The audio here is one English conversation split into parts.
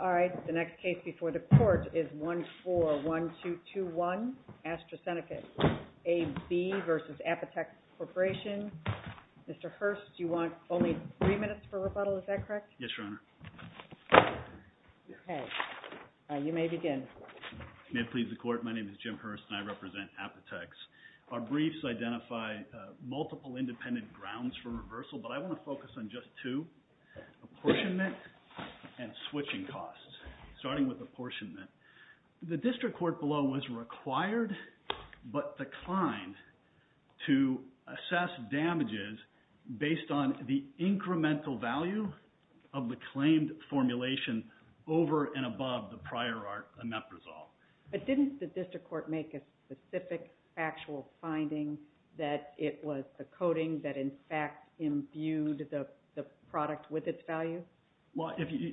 All right. The next case before the court is 14-1221, Astrazeneca AB v. Apotex Corp. Mr. Hurst, you want only three minutes for rebuttal, is that correct? Yes, Your Honor. Okay. You may begin. May it please the Court, my name is Jim Hurst and I represent Apotex. Our briefs identify multiple independent grounds for reversal, but I want to focus on just two, apportionment and switching costs, starting with apportionment. The District Court below was required, but declined, to assess damages based on the incremental value of the claimed formulation over and above the prior amendment resolved. But didn't the District Court make a specific factual finding that it was the coding that in fact imbued the product with its value? Well,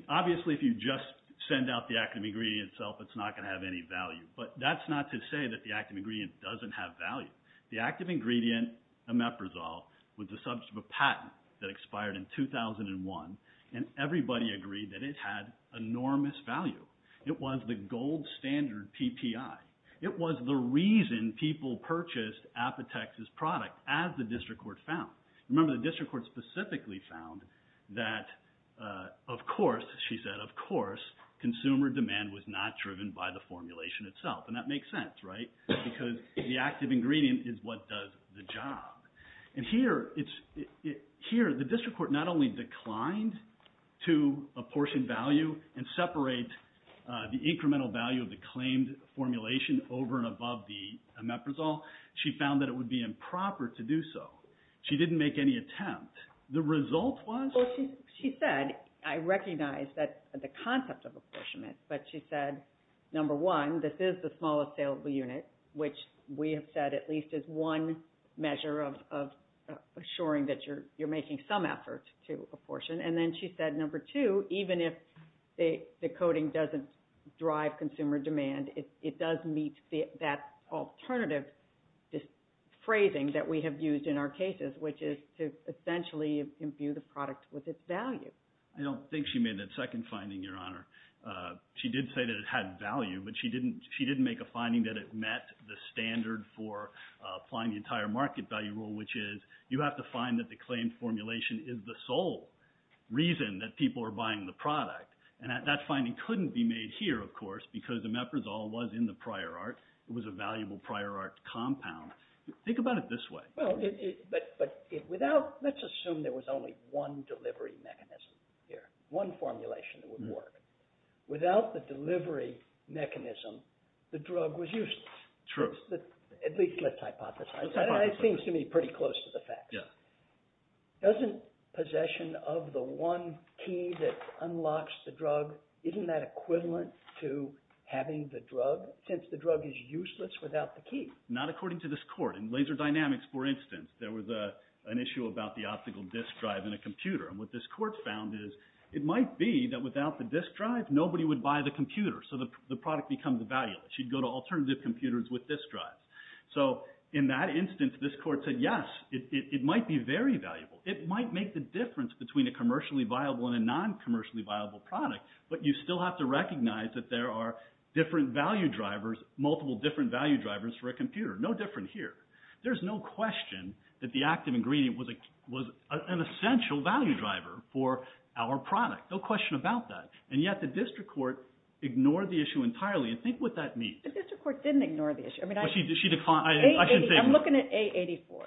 obviously if you just send out the active ingredient itself, it's not going to have any value. But that's not to say that the active ingredient doesn't have value. The active ingredient, omeprazole, was the subject of a patent that expired in 2001, and everybody agreed that it had enormous value. It was the gold standard PPI. It was the reason people purchased Apotex's product, as the District Court found. Remember, the District Court specifically found that, of course, she said, of course, consumer demand was not driven by the formulation itself. And that makes sense, right? Because the active ingredient is what does the job. And here, the District Court not only declined to apportion value and separate the incremental value of the claimed formulation over and above the omeprazole, she found that it would be improper to do so. She didn't make any attempt. The result was? Well, she said, I recognize that the concept of apportionment, but she said, number one, this is the smallest saleable unit, which we have said at least is one measure of assuring that you're making some effort to apportion. And then she said, number two, even if the coding doesn't drive consumer demand, it does meet that alternative phrasing that we have used in our cases, which is to essentially imbue the product with its value. I don't think she made that second finding, Your Honor. She did say that it had value, but she didn't make a finding that it met the standard for applying the entire market value rule, which is you have to find that the claimed formulation is the sole reason that people are buying the product. And that finding couldn't be made here, of course, because the omeprazole was in the prior art. It was a valuable prior art compound. Think about it this way. Well, but without – let's assume there was only one delivery mechanism here, one formulation that would work. Without the delivery mechanism, the drug was useless. True. At least let's hypothesize. It seems to me pretty close to the fact. Yeah. Doesn't possession of the one key that unlocks the drug, isn't that equivalent to having the drug, since the drug is useless without the key? Not according to this court. In laser dynamics, for instance, there was an issue about the optical disk drive in a computer. And what this court found is it might be that without the disk drive, nobody would buy the computer, so the product becomes valueless. You'd go to alternative computers with disk drives. So in that instance, this court said, yes, it might be very valuable. It might make the difference between a commercially viable and a non-commercially viable product, but you still have to recognize that there are different value drivers, multiple different value drivers for a computer, no different here. There's no question that the active ingredient was an essential value driver for our product. No question about that. And yet the district court ignored the issue entirely. Think what that means. The district court didn't ignore the issue. I'm looking at A84.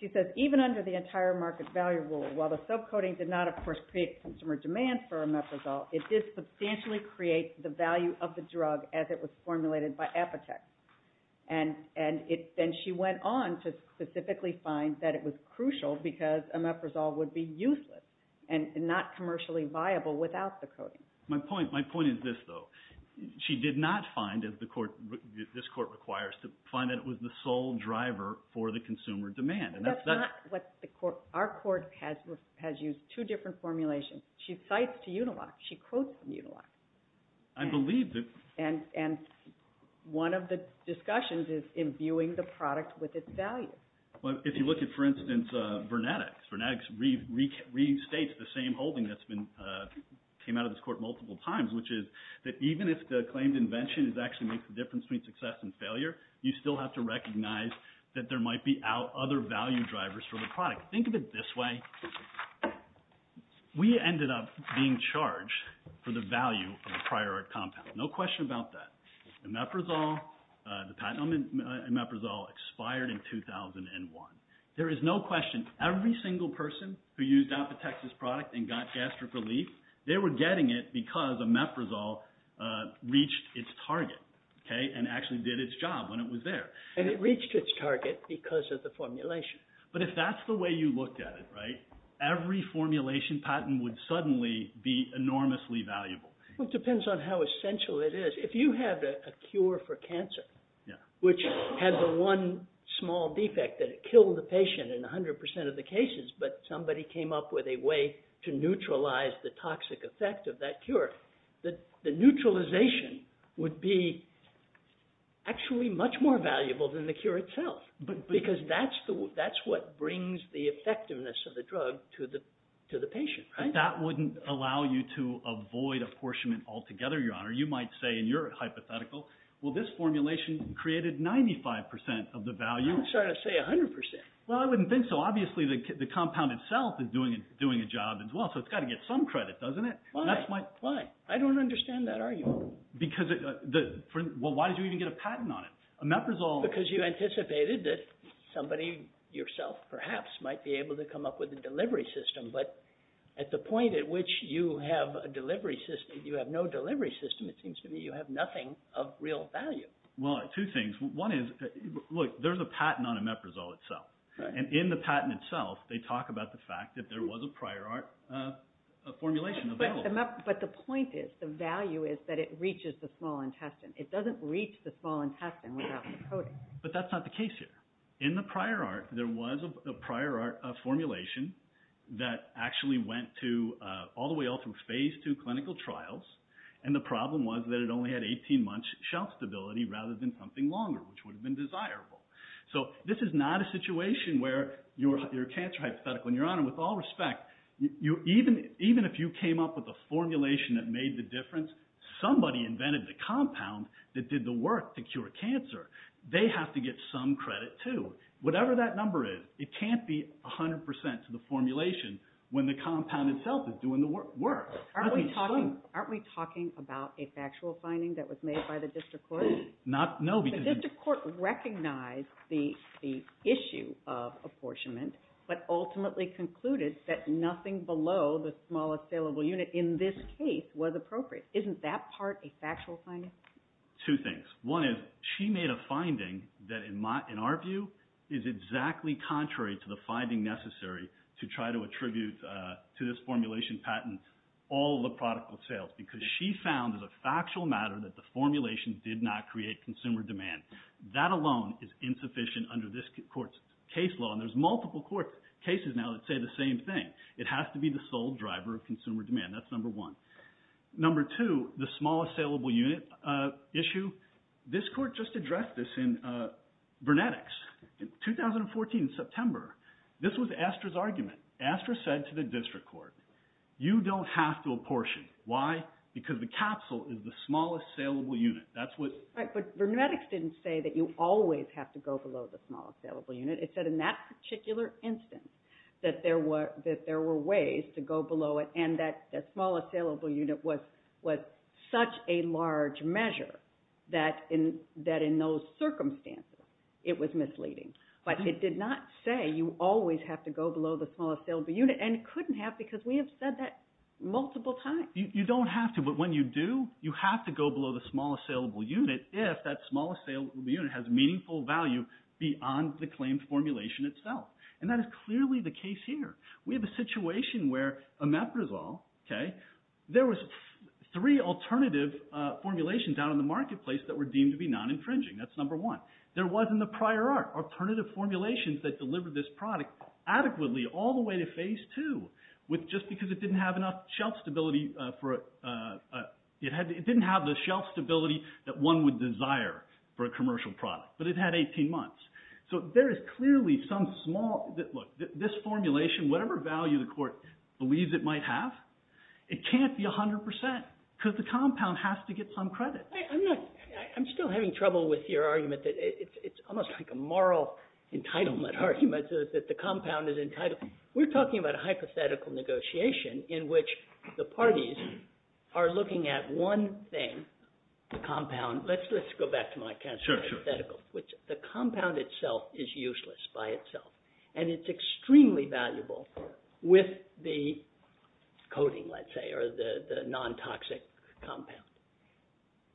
She says, even under the entire market value rule, while the subcoding did not, of course, create consumer demand for omeprazole, it did substantially create the value of the drug as it was formulated by Apotex. And she went on to specifically find that it was crucial because omeprazole would be useless and not commercially viable without the coding. My point is this, though. She did not find, as this court requires, to find that it was the sole driver for the consumer demand. But that's not what the court – our court has used two different formulations. She cites Uniloc. She quotes Uniloc. I believe that. And one of the discussions is imbuing the product with its value. Well, if you look at, for instance, Vernetix, Vernetix restates the same holding that's been – came out of this court multiple times, which is that even if the claimed invention actually makes the difference between success and failure, you still have to recognize that there might be other value drivers for the product. Think of it this way. We ended up being charged for the value of the prior compound. No question about that. Omeprazole, the patent on omeprazole, expired in 2001. There is no question. Every single person who used Apotex's product and got gastric relief, they were getting it because omeprazole reached its target, okay, and actually did its job when it was there. And it reached its target because of the formulation. But if that's the way you looked at it, right, every formulation patent would suddenly be enormously valuable. Well, it depends on how essential it is. If you had a cure for cancer, which had the one small defect that it killed the patient in 100 percent of the cases, but somebody came up with a way to neutralize the toxic effect of that cure, the neutralization would be actually much more valuable than the cure itself because that's what brings the effectiveness of the drug to the patient, right? But that wouldn't allow you to avoid apportionment altogether, Your Honor. You might say in your hypothetical, well, this formulation created 95 percent of the value. I'm sorry to say 100 percent. Well, I wouldn't think so. Well, obviously the compound itself is doing a job as well, so it's got to get some credit, doesn't it? Why? I don't understand that argument. Well, why did you even get a patent on it? Because you anticipated that somebody yourself perhaps might be able to come up with a delivery system. But at the point at which you have no delivery system, it seems to me you have nothing of real value. Well, two things. One is, look, there's a patent on omeprazole itself. And in the patent itself, they talk about the fact that there was a prior art formulation available. But the point is, the value is that it reaches the small intestine. It doesn't reach the small intestine without the protein. But that's not the case here. In the prior art, there was a prior art formulation that actually went all the way all through Phase II clinical trials, and the problem was that it only had 18-month shelf stability rather than something longer, which would have been desirable. So this is not a situation where you're a cancer hypothetical. And, Your Honor, with all respect, even if you came up with a formulation that made the difference, somebody invented the compound that did the work to cure cancer. They have to get some credit, too. Whatever that number is, it can't be 100% to the formulation when the compound itself is doing the work. Aren't we talking about a factual finding that was made by the district court? No. The district court recognized the issue of apportionment but ultimately concluded that nothing below the smallest salable unit in this case was appropriate. Isn't that part a factual finding? Two things. One is she made a finding that, in our view, is exactly contrary to the finding necessary to try to attribute to this formulation patent all the product of sales because she found as a factual matter that the formulation did not create consumer demand. That alone is insufficient under this court's case law. And there's multiple cases now that say the same thing. It has to be the sole driver of consumer demand. That's number one. Number two, the smallest salable unit issue. This court just addressed this in Vernetics in 2014, in September. This was Astra's argument. Astra said to the district court, you don't have to apportion. Why? Because the capsule is the smallest salable unit. Right, but Vernetics didn't say that you always have to go below the smallest salable unit. It said in that particular instance that there were ways to go below it and that the smallest salable unit was such a large measure that in those circumstances it was misleading. But it did not say you always have to go below the smallest salable unit and couldn't have because we have said that multiple times. You don't have to, but when you do, you have to go below the smallest salable unit if that smallest salable unit has meaningful value beyond the claimed formulation itself. And that is clearly the case here. We have a situation where Omeprazole, okay, there was three alternative formulations out in the marketplace that were deemed to be non-infringing. That's number one. There wasn't a prior art. There were alternative formulations that delivered this product adequately all the way to phase two just because it didn't have enough shelf stability for it. It didn't have the shelf stability that one would desire for a commercial product, but it had 18 months. So there is clearly some small, look, this formulation, whatever value the court believes it might have, it can't be 100% because the compound has to get some credit. I'm still having trouble with your argument that it's almost like a moral entitlement argument that the compound is entitled. We're talking about a hypothetical negotiation in which the parties are looking at one thing, the compound, let's go back to my hypothetical. The compound itself is useless by itself, and it's extremely valuable with the coating, let's say, or the non-toxic compound.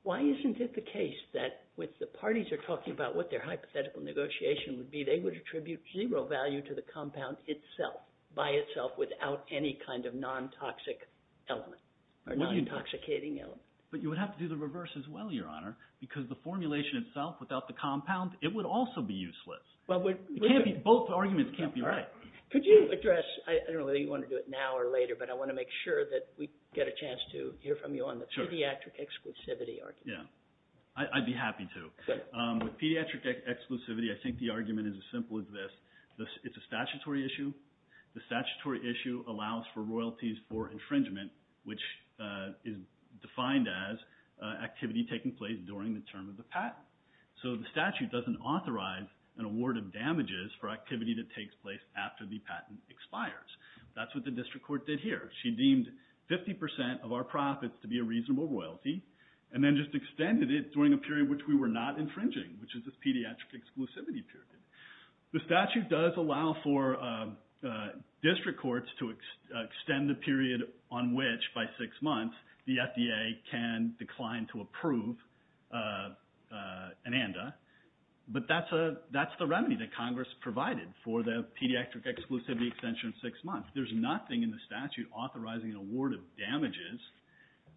Why isn't it the case that when the parties are talking about what their hypothetical negotiation would be, they would attribute zero value to the compound itself by itself without any kind of non-toxic element or non-intoxicating element? But you would have to do the reverse as well, Your Honor, because the formulation itself without the compound, it would also be useless. Both arguments can't be right. Could you address, I don't know whether you want to do it now or later, but I want to make sure that we get a chance to hear from you on the pediatric exclusivity argument. I'd be happy to. With pediatric exclusivity, I think the argument is as simple as this. It's a statutory issue. The statutory issue allows for royalties for infringement, which is defined as activity taking place during the term of the patent. So the statute doesn't authorize an award of damages for activity that takes place after the patent expires. That's what the district court did here. She deemed 50% of our profits to be a reasonable royalty and then just extended it during a period which we were not infringing, which is this pediatric exclusivity period. The statute does allow for district courts to extend the period on which by six months the FDA can decline to approve an ANDA, but that's the remedy that Congress provided for the pediatric exclusivity extension of six months. There's nothing in the statute authorizing an award of damages,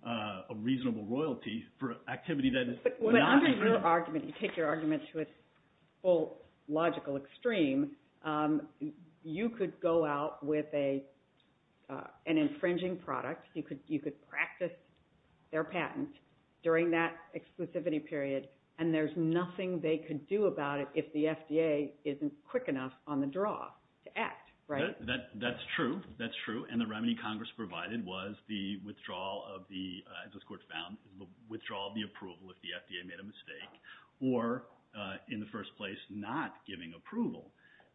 a reasonable royalty, for activity that is not… But under your argument, you take your argument to its full logical extreme. You could go out with an infringing product. You could practice their patent during that exclusivity period and there's nothing they could do about it if the FDA isn't quick enough on the draw to act, right? That's true. That's true. And the remedy Congress provided was the withdrawal of the approval if the FDA made a mistake or, in the first place, not giving approval.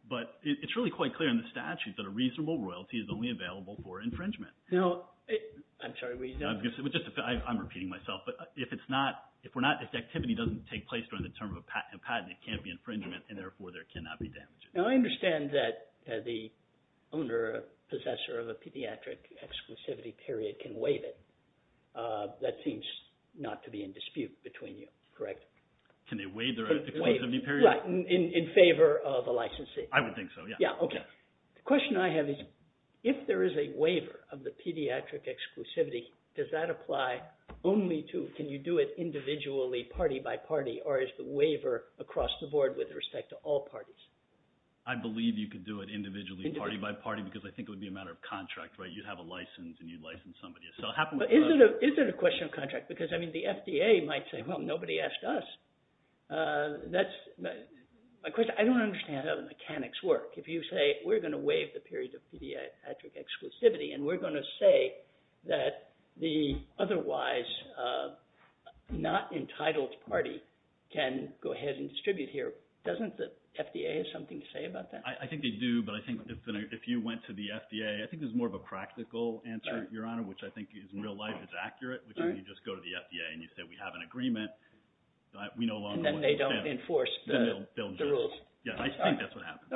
But it's really quite clear in the statute that a reasonable royalty is only available for infringement. I'm sorry. I'm repeating myself. But if activity doesn't take place during the term of a patent, it can't be infringement and therefore there cannot be damages. Now, I understand that the owner or possessor of a pediatric exclusivity period can waive it. That seems not to be in dispute between you, correct? Can they waive their exclusivity period? Right, in favor of a licensee. I would think so, yeah. Yeah, okay. The question I have is if there is a waiver of the pediatric exclusivity, does that apply only to, can you do it individually, party by party, or is the waiver across the board with respect to all parties? I believe you could do it individually, party by party, because I think it would be a matter of contract, right? You'd have a license and you'd license somebody. Is it a question of contract? Because, I mean, the FDA might say, well, nobody asked us. I don't understand how the mechanics work. If you say we're going to waive the period of pediatric exclusivity and we're going to say that the otherwise not entitled party can go ahead and distribute here, doesn't the FDA have something to say about that? I think they do, but I think if you went to the FDA, I think there's more of a practical answer, Your Honor, which I think in real life is accurate, which is you just go to the FDA and you say we have an agreement. Then they don't enforce the rules. Yeah, I think that's what happens.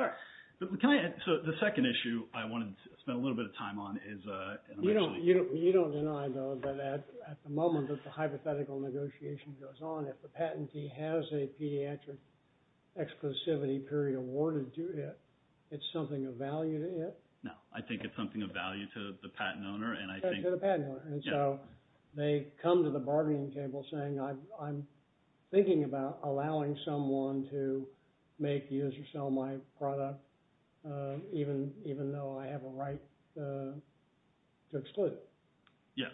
So the second issue I wanted to spend a little bit of time on is an emotional issue. You don't deny, though, that at the moment that the hypothetical negotiation goes on, if the patentee has a pediatric exclusivity period awarded to it, it's something of value to it? No. I think it's something of value to the patent owner. To the patent owner. And so they come to the bargaining table saying I'm thinking about allowing someone to make, use, or sell my product even though I have a right to exclude it. Yeah,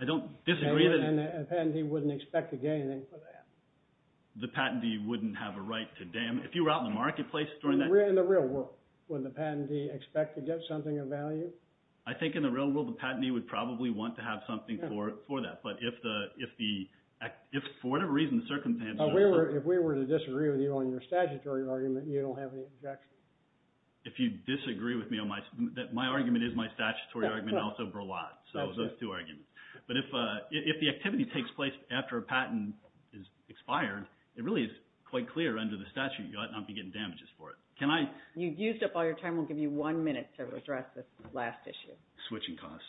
I don't disagree. And the patentee wouldn't expect to get anything for that. The patentee wouldn't have a right to – if you were out in the marketplace during that – In the real world, would the patentee expect to get something of value? I think in the real world the patentee would probably want to have something for that. But if for whatever reason the circumstances – If we were to disagree with you on your statutory argument, you don't have any objection? If you disagree with me on my – my argument is my statutory argument and also Berlant. So those two arguments. But if the activity takes place after a patent is expired, it really is quite clear under the statute you ought not be getting damages for it. Can I – You've used up all your time. We'll give you one minute to address this last issue. Switching costs.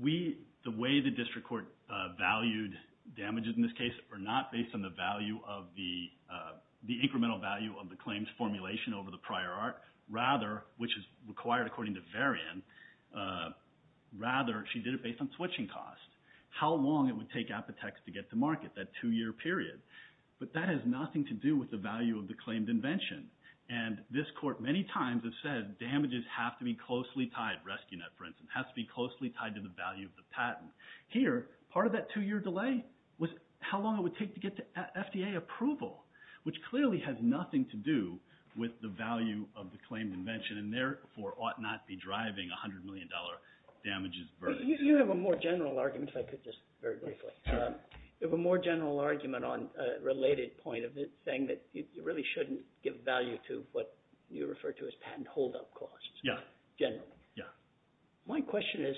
We – the way the district court valued damages in this case are not based on the value of the – the incremental value of the claims formulation over the prior art. Rather, which is required according to Varian, rather she did it based on switching costs. How long it would take Apotex to get to market, that two-year period. But that has nothing to do with the value of the claimed invention. And this court many times has said damages have to be closely tied. Rescue Net, for instance, has to be closely tied to the value of the patent. Here, part of that two-year delay was how long it would take to get to FDA approval, which clearly has nothing to do with the value of the claimed invention and therefore ought not be driving $100 million damages burden. You have a more general argument, if I could just very briefly. You have a more general argument on a related point of it, saying that you really shouldn't give value to what you refer to as patent holdup costs. Yeah. General. Yeah. My question is,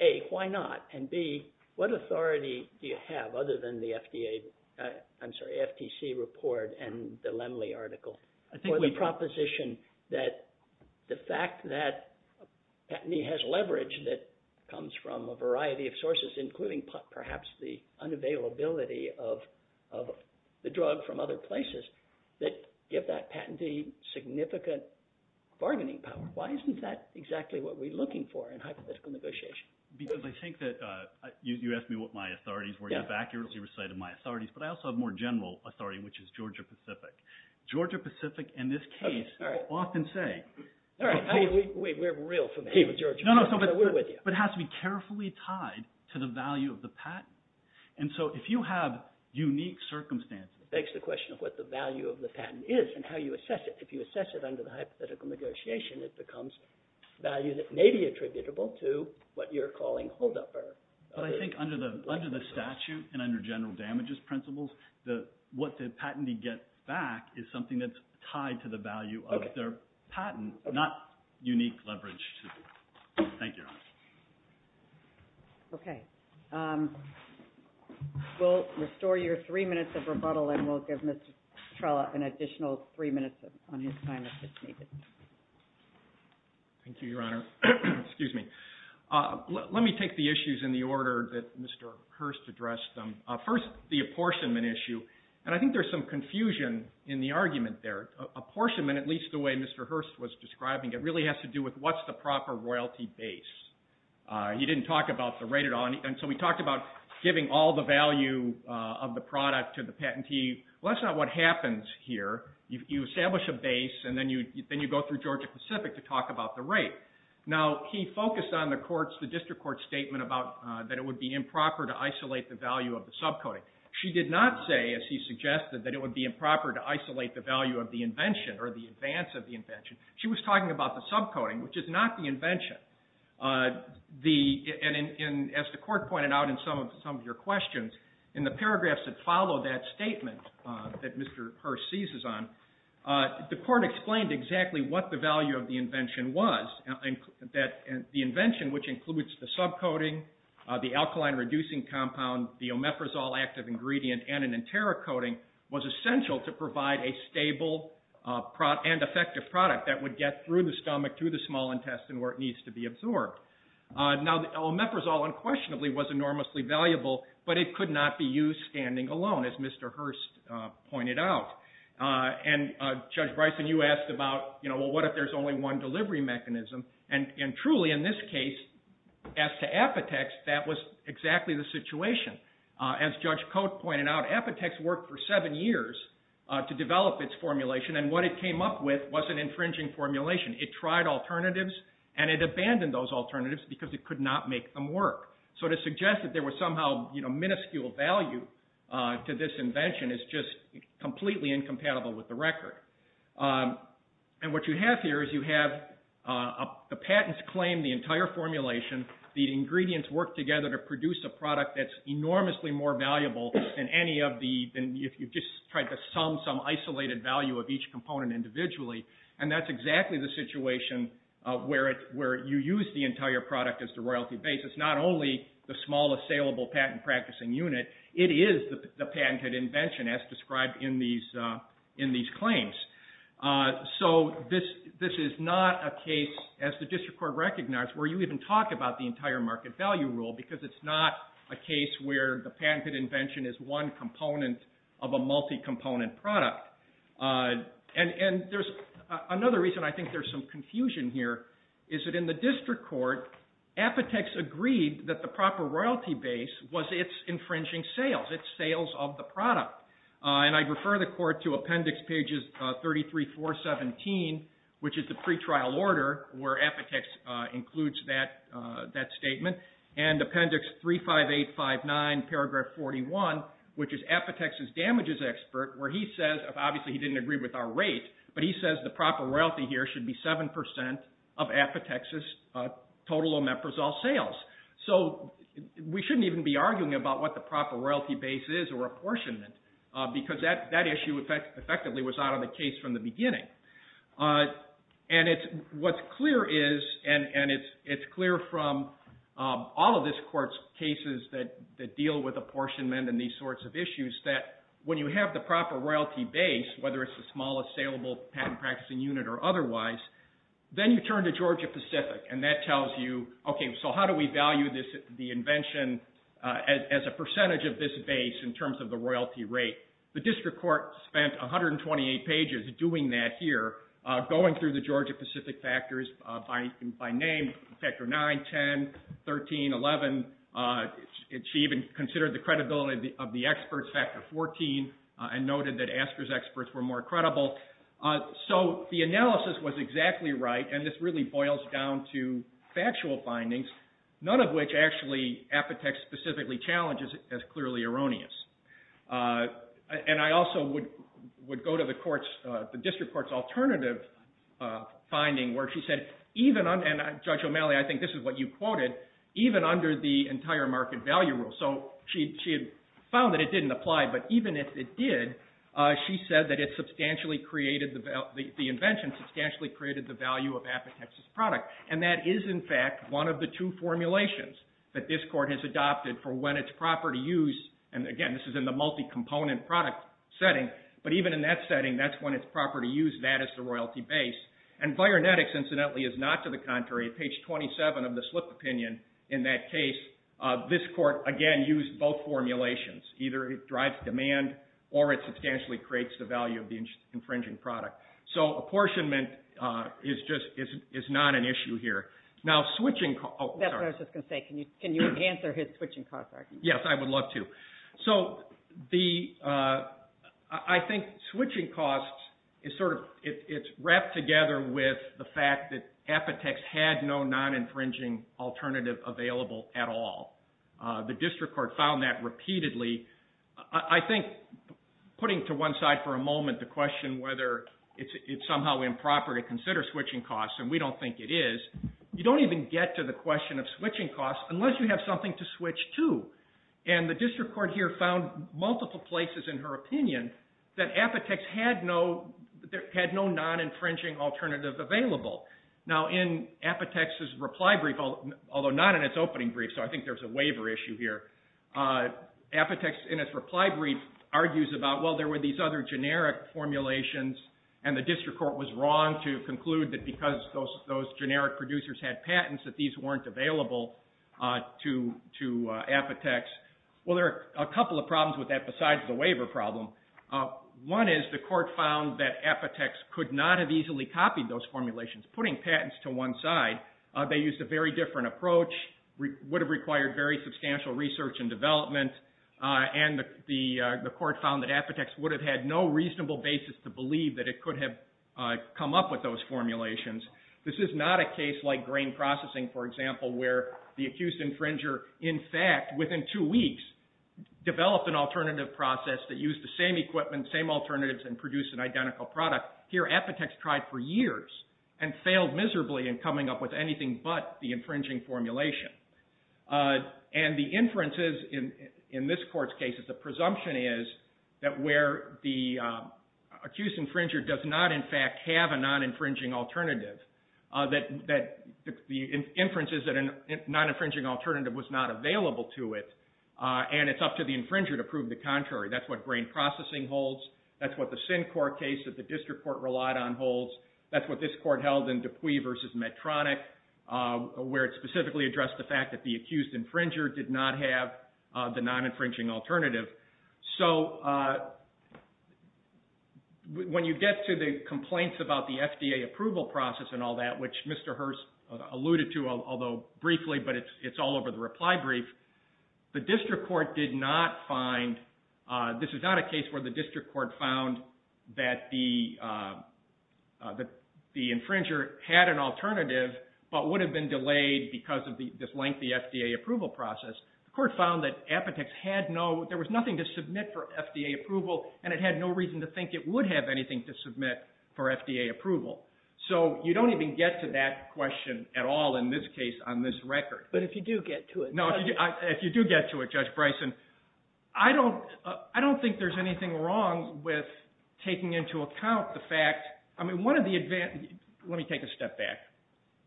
A, why not? And, B, what authority do you have, other than the FDA – I'm sorry, FTC report and the Lemley article for the proposition that the fact that including perhaps the unavailability of the drug from other places that give that patentee significant bargaining power. Why isn't that exactly what we're looking for in hypothetical negotiation? Because I think that – you asked me what my authorities were. You've accurately recited my authorities. But I also have a more general authority, which is Georgia-Pacific. Georgia-Pacific, in this case, will often say – All right. We're real familiar with Georgia-Pacific. We're with you. But it has to be carefully tied to the value of the patent. And so if you have unique circumstances – It begs the question of what the value of the patent is and how you assess it. If you assess it under the hypothetical negotiation, it becomes value that may be attributable to what you're calling holdup. But I think under the statute and under general damages principles, what the patentee gets back is something that's tied to the value of their patent, not unique leverage. Thank you, Your Honor. Okay. We'll restore your three minutes of rebuttal, and we'll give Mr. Trella an additional three minutes on his time if it's needed. Thank you, Your Honor. Excuse me. Let me take the issues in the order that Mr. Hurst addressed them. First, the apportionment issue. And I think there's some confusion in the argument there. Apportionment, at least the way Mr. Hurst was describing it, really has to do with what's the proper royalty base. He didn't talk about the rate at all. And so we talked about giving all the value of the product to the patentee. Well, that's not what happens here. You establish a base, and then you go through Georgia-Pacific to talk about the rate. Now, he focused on the district court statement about that it would be improper to isolate the value of the subcoding. She did not say, as he suggested, that it would be improper to isolate the value of the invention or the advance of the invention. She was talking about the subcoding, which is not the invention. And as the court pointed out in some of your questions, in the paragraphs that follow that statement that Mr. Hurst seizes on, the court explained exactly what the value of the invention was, that the invention, which includes the subcoding, the alkaline-reducing compound, the omeprazole active ingredient, and an enterocoding, was essential to provide a stable and effective product that would get through the stomach, through the small intestine, where it needs to be absorbed. Now, omeprazole unquestionably was enormously valuable, but it could not be used standing alone, as Mr. Hurst pointed out. And Judge Bryson, you asked about, well, what if there's only one delivery mechanism? And truly, in this case, as to Apotex, that was exactly the situation. As Judge Cote pointed out, Apotex worked for seven years to develop its formulation, and what it came up with was an infringing formulation. It tried alternatives, and it abandoned those alternatives because it could not make them work. So to suggest that there was somehow minuscule value to this invention is just completely incompatible with the record. And what you have here is you have the patents claim the entire formulation, the ingredients work together to produce a product that's enormously more valuable than if you just tried to sum some isolated value of each component individually. And that's exactly the situation where you use the entire product as the royalty base. It's not only the smallest saleable patent practicing unit, it is the patented invention as described in these claims. So this is not a case, as the district court recognized, where you even talk about the entire market value rule because it's not a case where the patented invention is one component of a multi-component product. And another reason I think there's some confusion here is that in the district court, Apotex agreed that the proper royalty base was its infringing sales, its sales of the product. And I'd refer the court to appendix pages 33, 4, 17, which is the pretrial order where Apotex includes that statement, and appendix 358, 59, paragraph 41, which is Apotex's damages expert, where he says, obviously he didn't agree with our rate, but he says the proper royalty here should be 7% of Apotex's total omeprazole sales. So we shouldn't even be arguing about what the proper royalty base is or apportionment because that issue effectively was out of the case from the beginning. And what's clear is, and it's clear from all of this court's cases that deal with apportionment and these sorts of issues, that when you have the proper royalty base, whether it's the smallest saleable patent practicing unit or otherwise, then you turn to Georgia-Pacific and that tells you, okay, so how do we value the invention as a percentage of this base in terms of the royalty rate? The district court spent 128 pages doing that here, going through the Georgia-Pacific factors by name, factor 9, 10, 13, 11. She even considered the credibility of the experts, factor 14, and noted that ASCA's experts were more credible. So the analysis was exactly right, and this really boils down to factual findings, none of which actually Apotex specifically challenges as clearly erroneous. And I also would go to the district court's alternative finding where she said, and Judge O'Malley, I think this is what you quoted, even under the entire market value rule. So she found that it didn't apply, but even if it did, she said that the invention substantially created the value of Apotex's product. And that is, in fact, one of the two formulations that this court has adopted for when it's proper to use, and again, this is in the multi-component product setting, but even in that setting, that's when it's proper to use that as the royalty base. And Vironetics, incidentally, is not to the contrary. Page 27 of the slip opinion in that case, this court, again, used both formulations. Either it drives demand, or it substantially creates the value of the infringing product. So apportionment is not an issue here. Now switching costs... That's what I was just going to say. Can you answer his switching costs argument? Yes, I would love to. So I think switching costs, it's wrapped together with the fact that Apotex had no non-infringing alternative available at all. The district court found that repeatedly. I think putting to one side for a moment the question whether it's somehow improper to consider switching costs, and we don't think it is, you don't even get to the question of switching costs unless you have something to switch to. And the district court here found multiple places in her opinion that Apotex had no non-infringing alternative available. Now in Apotex's reply brief, although not in its opening brief, so I think there's a waiver issue here, Apotex in its reply brief argues about, well, there were these other generic formulations, and the district court was wrong to conclude that because those generic producers had patents, that these weren't available to Apotex. Well, there are a couple of problems with that besides the waiver problem. One is the court found that Apotex could not have easily copied those formulations. Putting patents to one side, they used a very different approach, would have required very substantial research and development, and the court found that Apotex would have had no reasonable basis to believe that it could have come up with those formulations. This is not a case like grain processing, for example, where the accused infringer, in fact, within two weeks developed an alternative process that used the same equipment, same alternatives, and produced an identical product. Here Apotex tried for years and failed miserably in coming up with anything but the infringing formulation. And the inferences in this court's case is the presumption is that where the accused infringer does not, in fact, have a non-infringing alternative, the inference is that a non-infringing alternative was not available to it, and it's up to the infringer to prove the contrary. That's what grain processing holds. That's what the SIN court case that the district court relied on holds. That's what this court held in Dupuy v. Medtronic, where it specifically addressed the fact that the accused infringer did not have the non-infringing alternative. So when you get to the complaints about the FDA approval process and all that, which Mr. Hurst alluded to, although briefly, but it's all over the reply brief, the district court did not find, this is not a case where the district court found that the infringer had an alternative but would have been delayed because of this lengthy FDA approval process. The court found that Apotex had no, there was nothing to submit for FDA approval, and it had no reason to think it would have anything to submit for FDA approval. So you don't even get to that question at all in this case on this record. But if you do get to it. No, if you do get to it, Judge Bryson, I don't think there's anything wrong with taking into account the fact, I mean, one of the, let me take a step back.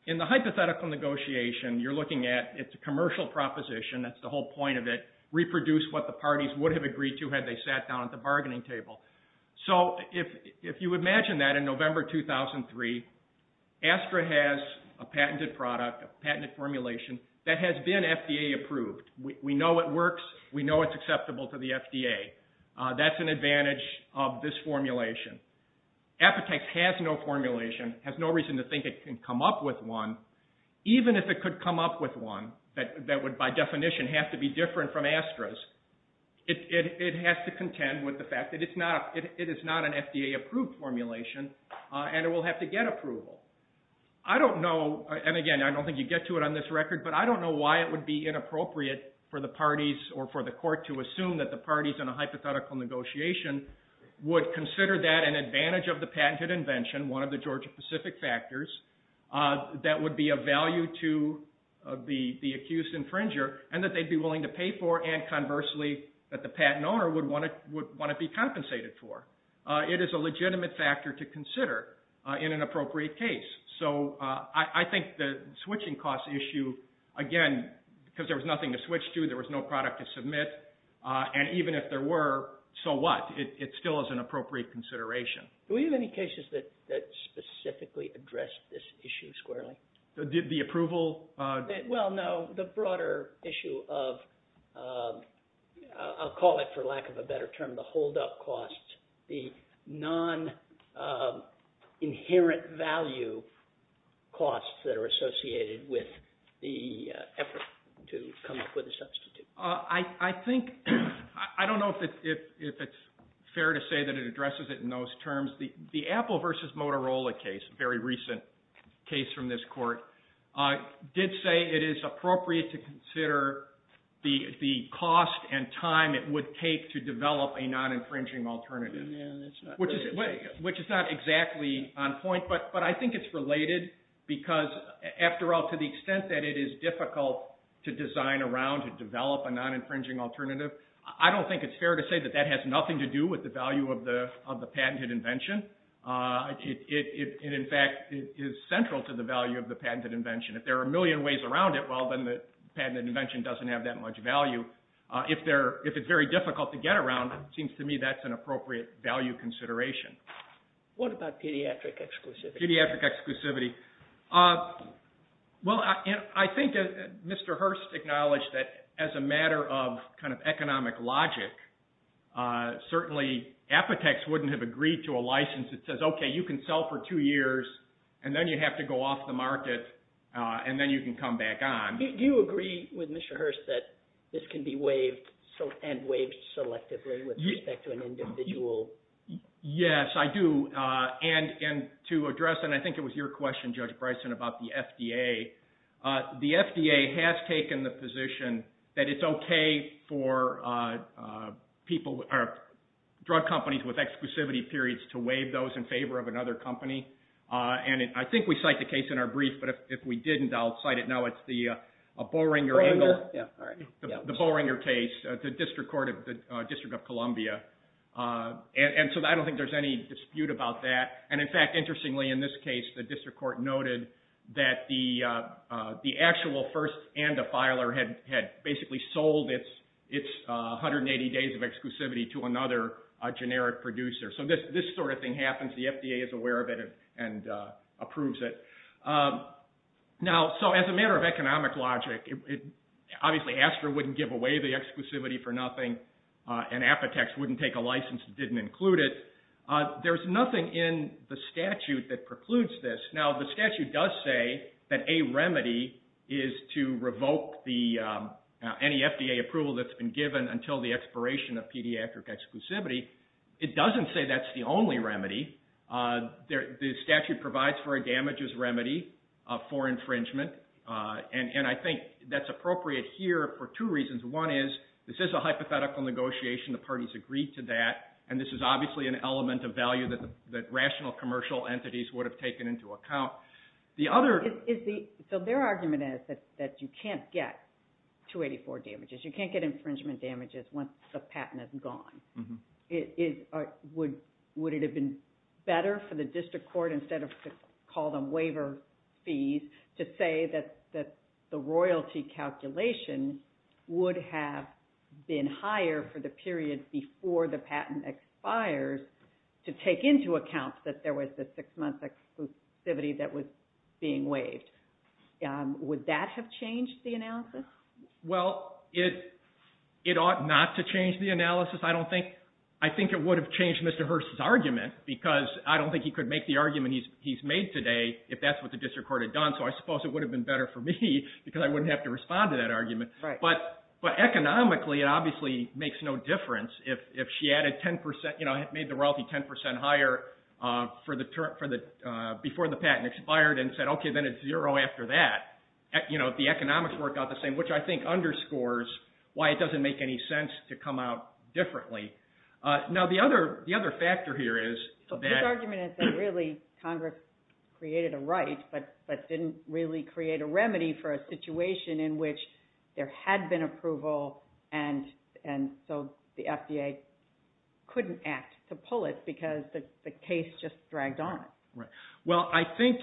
In the hypothetical negotiation, you're looking at, it's a commercial proposition, that's the whole point of it, reproduce what the parties would have agreed to had they sat down at the bargaining table. So if you imagine that in November 2003, Astra has a patented product, a patented formulation that has been FDA approved. We know it works. We know it's acceptable to the FDA. That's an advantage of this formulation. Apotex has no formulation, has no reason to think it can come up with one, even if it could come up with one that would by definition have to be different from Astra's. It has to contend with the fact that it is not an FDA approved formulation, and it will have to get approval. I don't know, and again, I don't think you get to it on this record, but I don't know why it would be inappropriate for the parties or for the court to assume that the parties in a hypothetical negotiation would consider that an advantage of the patented invention, one of the Georgia-Pacific factors, that would be of value to the accused infringer and that they'd be willing to pay for and conversely that the patent owner would want to be compensated for. It is a legitimate factor to consider in an appropriate case. So I think the switching cost issue, again, because there was nothing to switch to, there was no product to submit, and even if there were, so what? It still is an appropriate consideration. Do we have any cases that specifically address this issue squarely? The approval? Well, no, the broader issue of, I'll call it for lack of a better term, the holdup costs, the non-inherent value costs that are associated with the effort to come up with a substitute. I don't know if it's fair to say that it addresses it in those terms. The Apple versus Motorola case, a very recent case from this court, did say it is appropriate to consider the cost and time it would take to develop a non-infringing alternative, which is not exactly on point, but I think it's related because, after all, to the extent that it is difficult to design around and develop a non-infringing alternative, I don't think it's fair to say that that has nothing to do with the value of the patented invention. It, in fact, is central to the value of the patented invention. If there are a million ways around it, well, then the patented invention doesn't have that much value. If it's very difficult to get around, it seems to me that's an appropriate value consideration. What about pediatric exclusivity? Pediatric exclusivity. Well, I think Mr. Hurst acknowledged that, as a matter of economic logic, certainly Apotex wouldn't have agreed to a license that says, okay, you can sell for two years, and then you have to go off the market, and then you can come back on. Do you agree with Mr. Hurst that this can be waived and waived selectively with respect to an individual? Yes, I do. To address, and I think it was your question, Judge Bryson, about the FDA, the FDA has taken the position that it's okay for drug companies with exclusivity periods to waive those in favor of another company. I think we cite the case in our brief, but if we didn't, I'll cite it now. It's the Boehringer case, the District of Columbia. I don't think there's any dispute about that. In fact, interestingly, in this case, the district court noted that the actual first and the filer had basically sold its 180 days of exclusivity to another generic producer. This sort of thing happens. The FDA is aware of it and approves it. As a matter of economic logic, obviously Astra wouldn't give away the exclusivity for nothing, and Apotex wouldn't take a license that didn't include it. There's nothing in the statute that precludes this. Now, the statute does say that a remedy is to revoke any FDA approval that's been given until the expiration of pediatric exclusivity. It doesn't say that's the only remedy. The statute provides for a damages remedy for infringement, and I think that's appropriate here for two reasons. One is, this is a hypothetical negotiation. The parties agreed to that, and this is obviously an element of value that rational commercial entities would have taken into account. So their argument is that you can't get 284 damages. You can't get infringement damages once the patent is gone. Would it have been better for the district court, instead of call them waiver fees, to say that the royalty calculation would have been higher for the period before the patent expires to take into account that there was a six-month exclusivity that was being waived? Would that have changed the analysis? Well, it ought not to change the analysis. I think it would have changed Mr. Hearst's argument, because I don't think he could make the argument he's made today if that's what the district court had done. So I suppose it would have been better for me, because I wouldn't have to respond to that argument. But economically, it obviously makes no difference. If she made the royalty 10 percent higher before the patent expired and said, okay, then it's zero after that, the economics worked out the same, which I think underscores why it doesn't make any sense to come out differently. Now, the other factor here is that... but didn't really create a remedy for a situation in which there had been approval and so the FDA couldn't act to pull it because the case just dragged on. Well, I think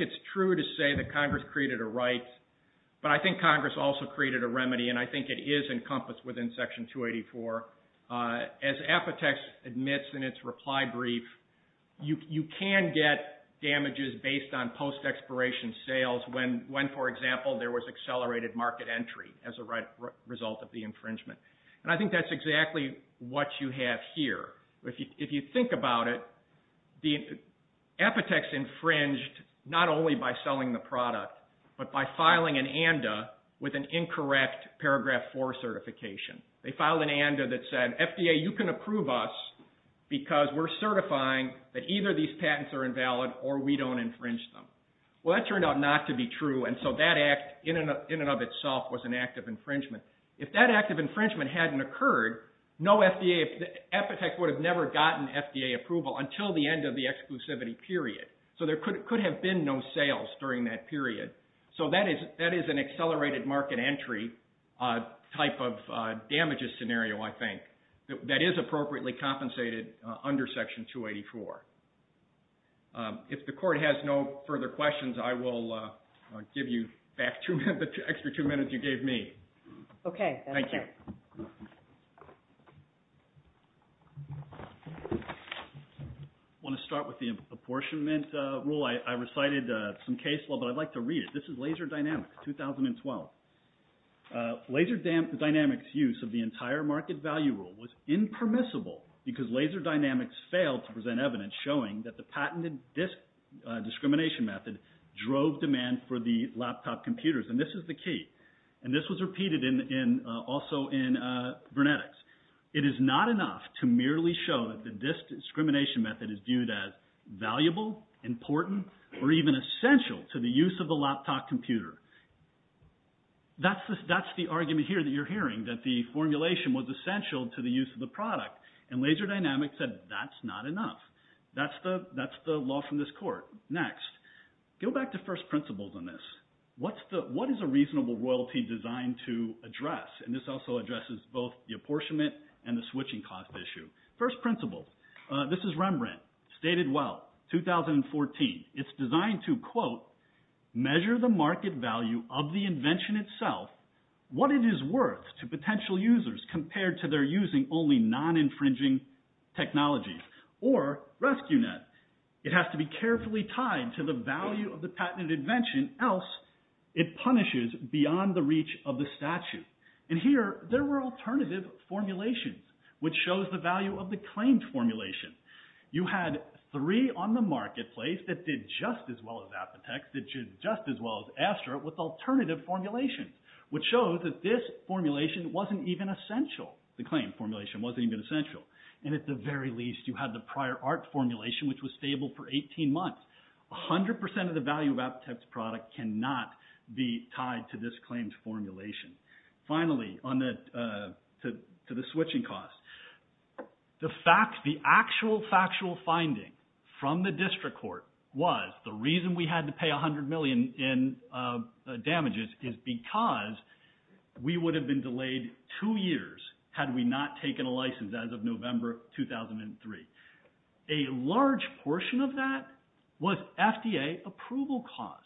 it's true to say that Congress created a right, but I think Congress also created a remedy, and I think it is encompassed within Section 284. As Apotex admits in its reply brief, you can get damages based on post-expiration sales when, for example, there was accelerated market entry as a result of the infringement. And I think that's exactly what you have here. If you think about it, Apotex infringed not only by selling the product, but by filing an ANDA with an incorrect Paragraph 4 certification. They filed an ANDA that said, FDA, you can approve us because we're certifying that either these patents are invalid or we don't infringe them. Well, that turned out not to be true, and so that act in and of itself was an act of infringement. If that act of infringement hadn't occurred, Apotex would have never gotten FDA approval until the end of the exclusivity period, so there could have been no sales during that period. So that is an accelerated market entry type of damages scenario, I think, that is appropriately compensated under Section 284. If the Court has no further questions, I will give you back the extra two minutes you gave me. Okay. Thank you. I want to start with the apportionment rule. I recited some case law, but I'd like to read it. This is Laser Dynamics, 2012. Laser Dynamics' use of the entire market value rule was impermissible because Laser Dynamics failed to present evidence showing that the patented disk discrimination method drove demand for the laptop computers, and this is the key, and this was repeated also in Vernetics. It is not enough to merely show that the disk discrimination method is viewed as valuable, important, or even essential to the use of the laptop computer. That's the argument here that you're hearing, that the formulation was essential to the use of the product, and Laser Dynamics said that's not enough. That's the law from this Court. Next. Go back to first principles on this. What is a reasonable royalty designed to address? And this also addresses both the apportionment and the switching cost issue. First principles. This is Rembrandt, stated well, 2014. It's designed to, quote, measure the market value of the invention itself, what it is worth to potential users compared to their using only non-infringing technologies, or RescueNet. It has to be carefully tied to the value of the patented invention, else it punishes beyond the reach of the statute. And here there were alternative formulations, which shows the value of the claimed formulation. You had three on the marketplace that did just as well as Apotex, that did just as well as Astra with alternative formulations, which shows that this formulation wasn't even essential. The claimed formulation wasn't even essential. And at the very least, you had the prior art formulation, which was stable for 18 months. 100% of the value of Apotex product cannot be tied to this claimed formulation. Finally, to the switching cost. The actual factual finding from the district court was the reason we had to pay $100 million in damages is because we would have been delayed two years had we not taken a license as of November 2003. A large portion of that was FDA approval costs,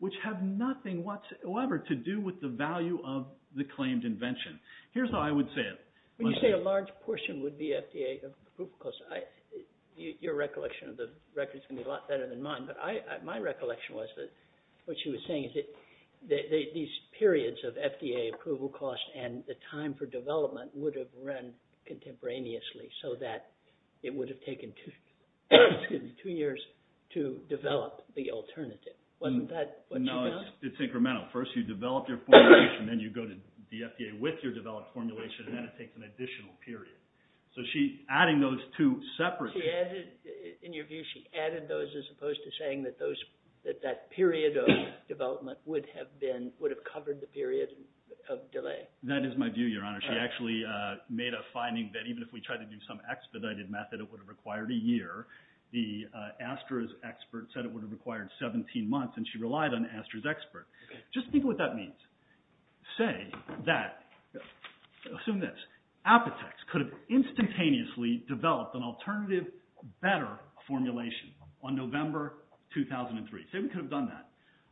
which have nothing whatsoever to do with the value of the claimed invention. Here's how I would say it. When you say a large portion would be FDA approval costs, your recollection of the record is going to be a lot better than mine, but my recollection was that what she was saying is that these periods of FDA approval costs and the time for development would have run contemporaneously, so that it would have taken two years to develop the alternative. Wasn't that what she meant? No, it's incremental. First you develop your formulation, then you go to the FDA with your developed formulation, and then it takes an additional period. So adding those two separately... In your view, she added those as opposed to saying that that period of development would have covered the period of delay. That is my view, Your Honor. She actually made a finding that even if we tried to do some expedited method, it would have required a year. The Astra's expert said it would have required 17 months, and she relied on Astra's expert. Just think of what that means. Say that... Assume this. Apotex could have instantaneously developed an alternative, better formulation on November 2003. Say we could have done that.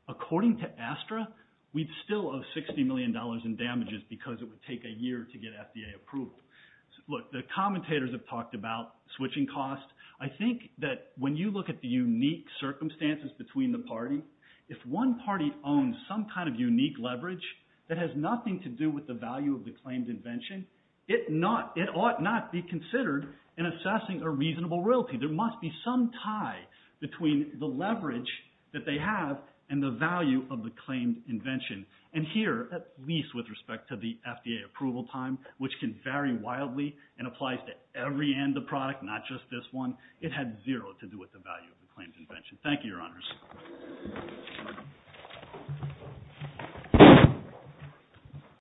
According to Astra, we'd still owe $60 million in damages because it would take a year to get FDA approval. Look, the commentators have talked about switching costs. I think that when you look at the unique circumstances between the parties, if one party owns some kind of unique leverage that has nothing to do with the value of the claimed invention, it ought not be considered in assessing a reasonable royalty. There must be some tie between the leverage that they have and the value of the claimed invention. And here, at least with respect to the FDA approval time, which can vary wildly and applies to every end of product, not just this one, it had zero to do with the value of the claimed invention. Thank you, Your Honors.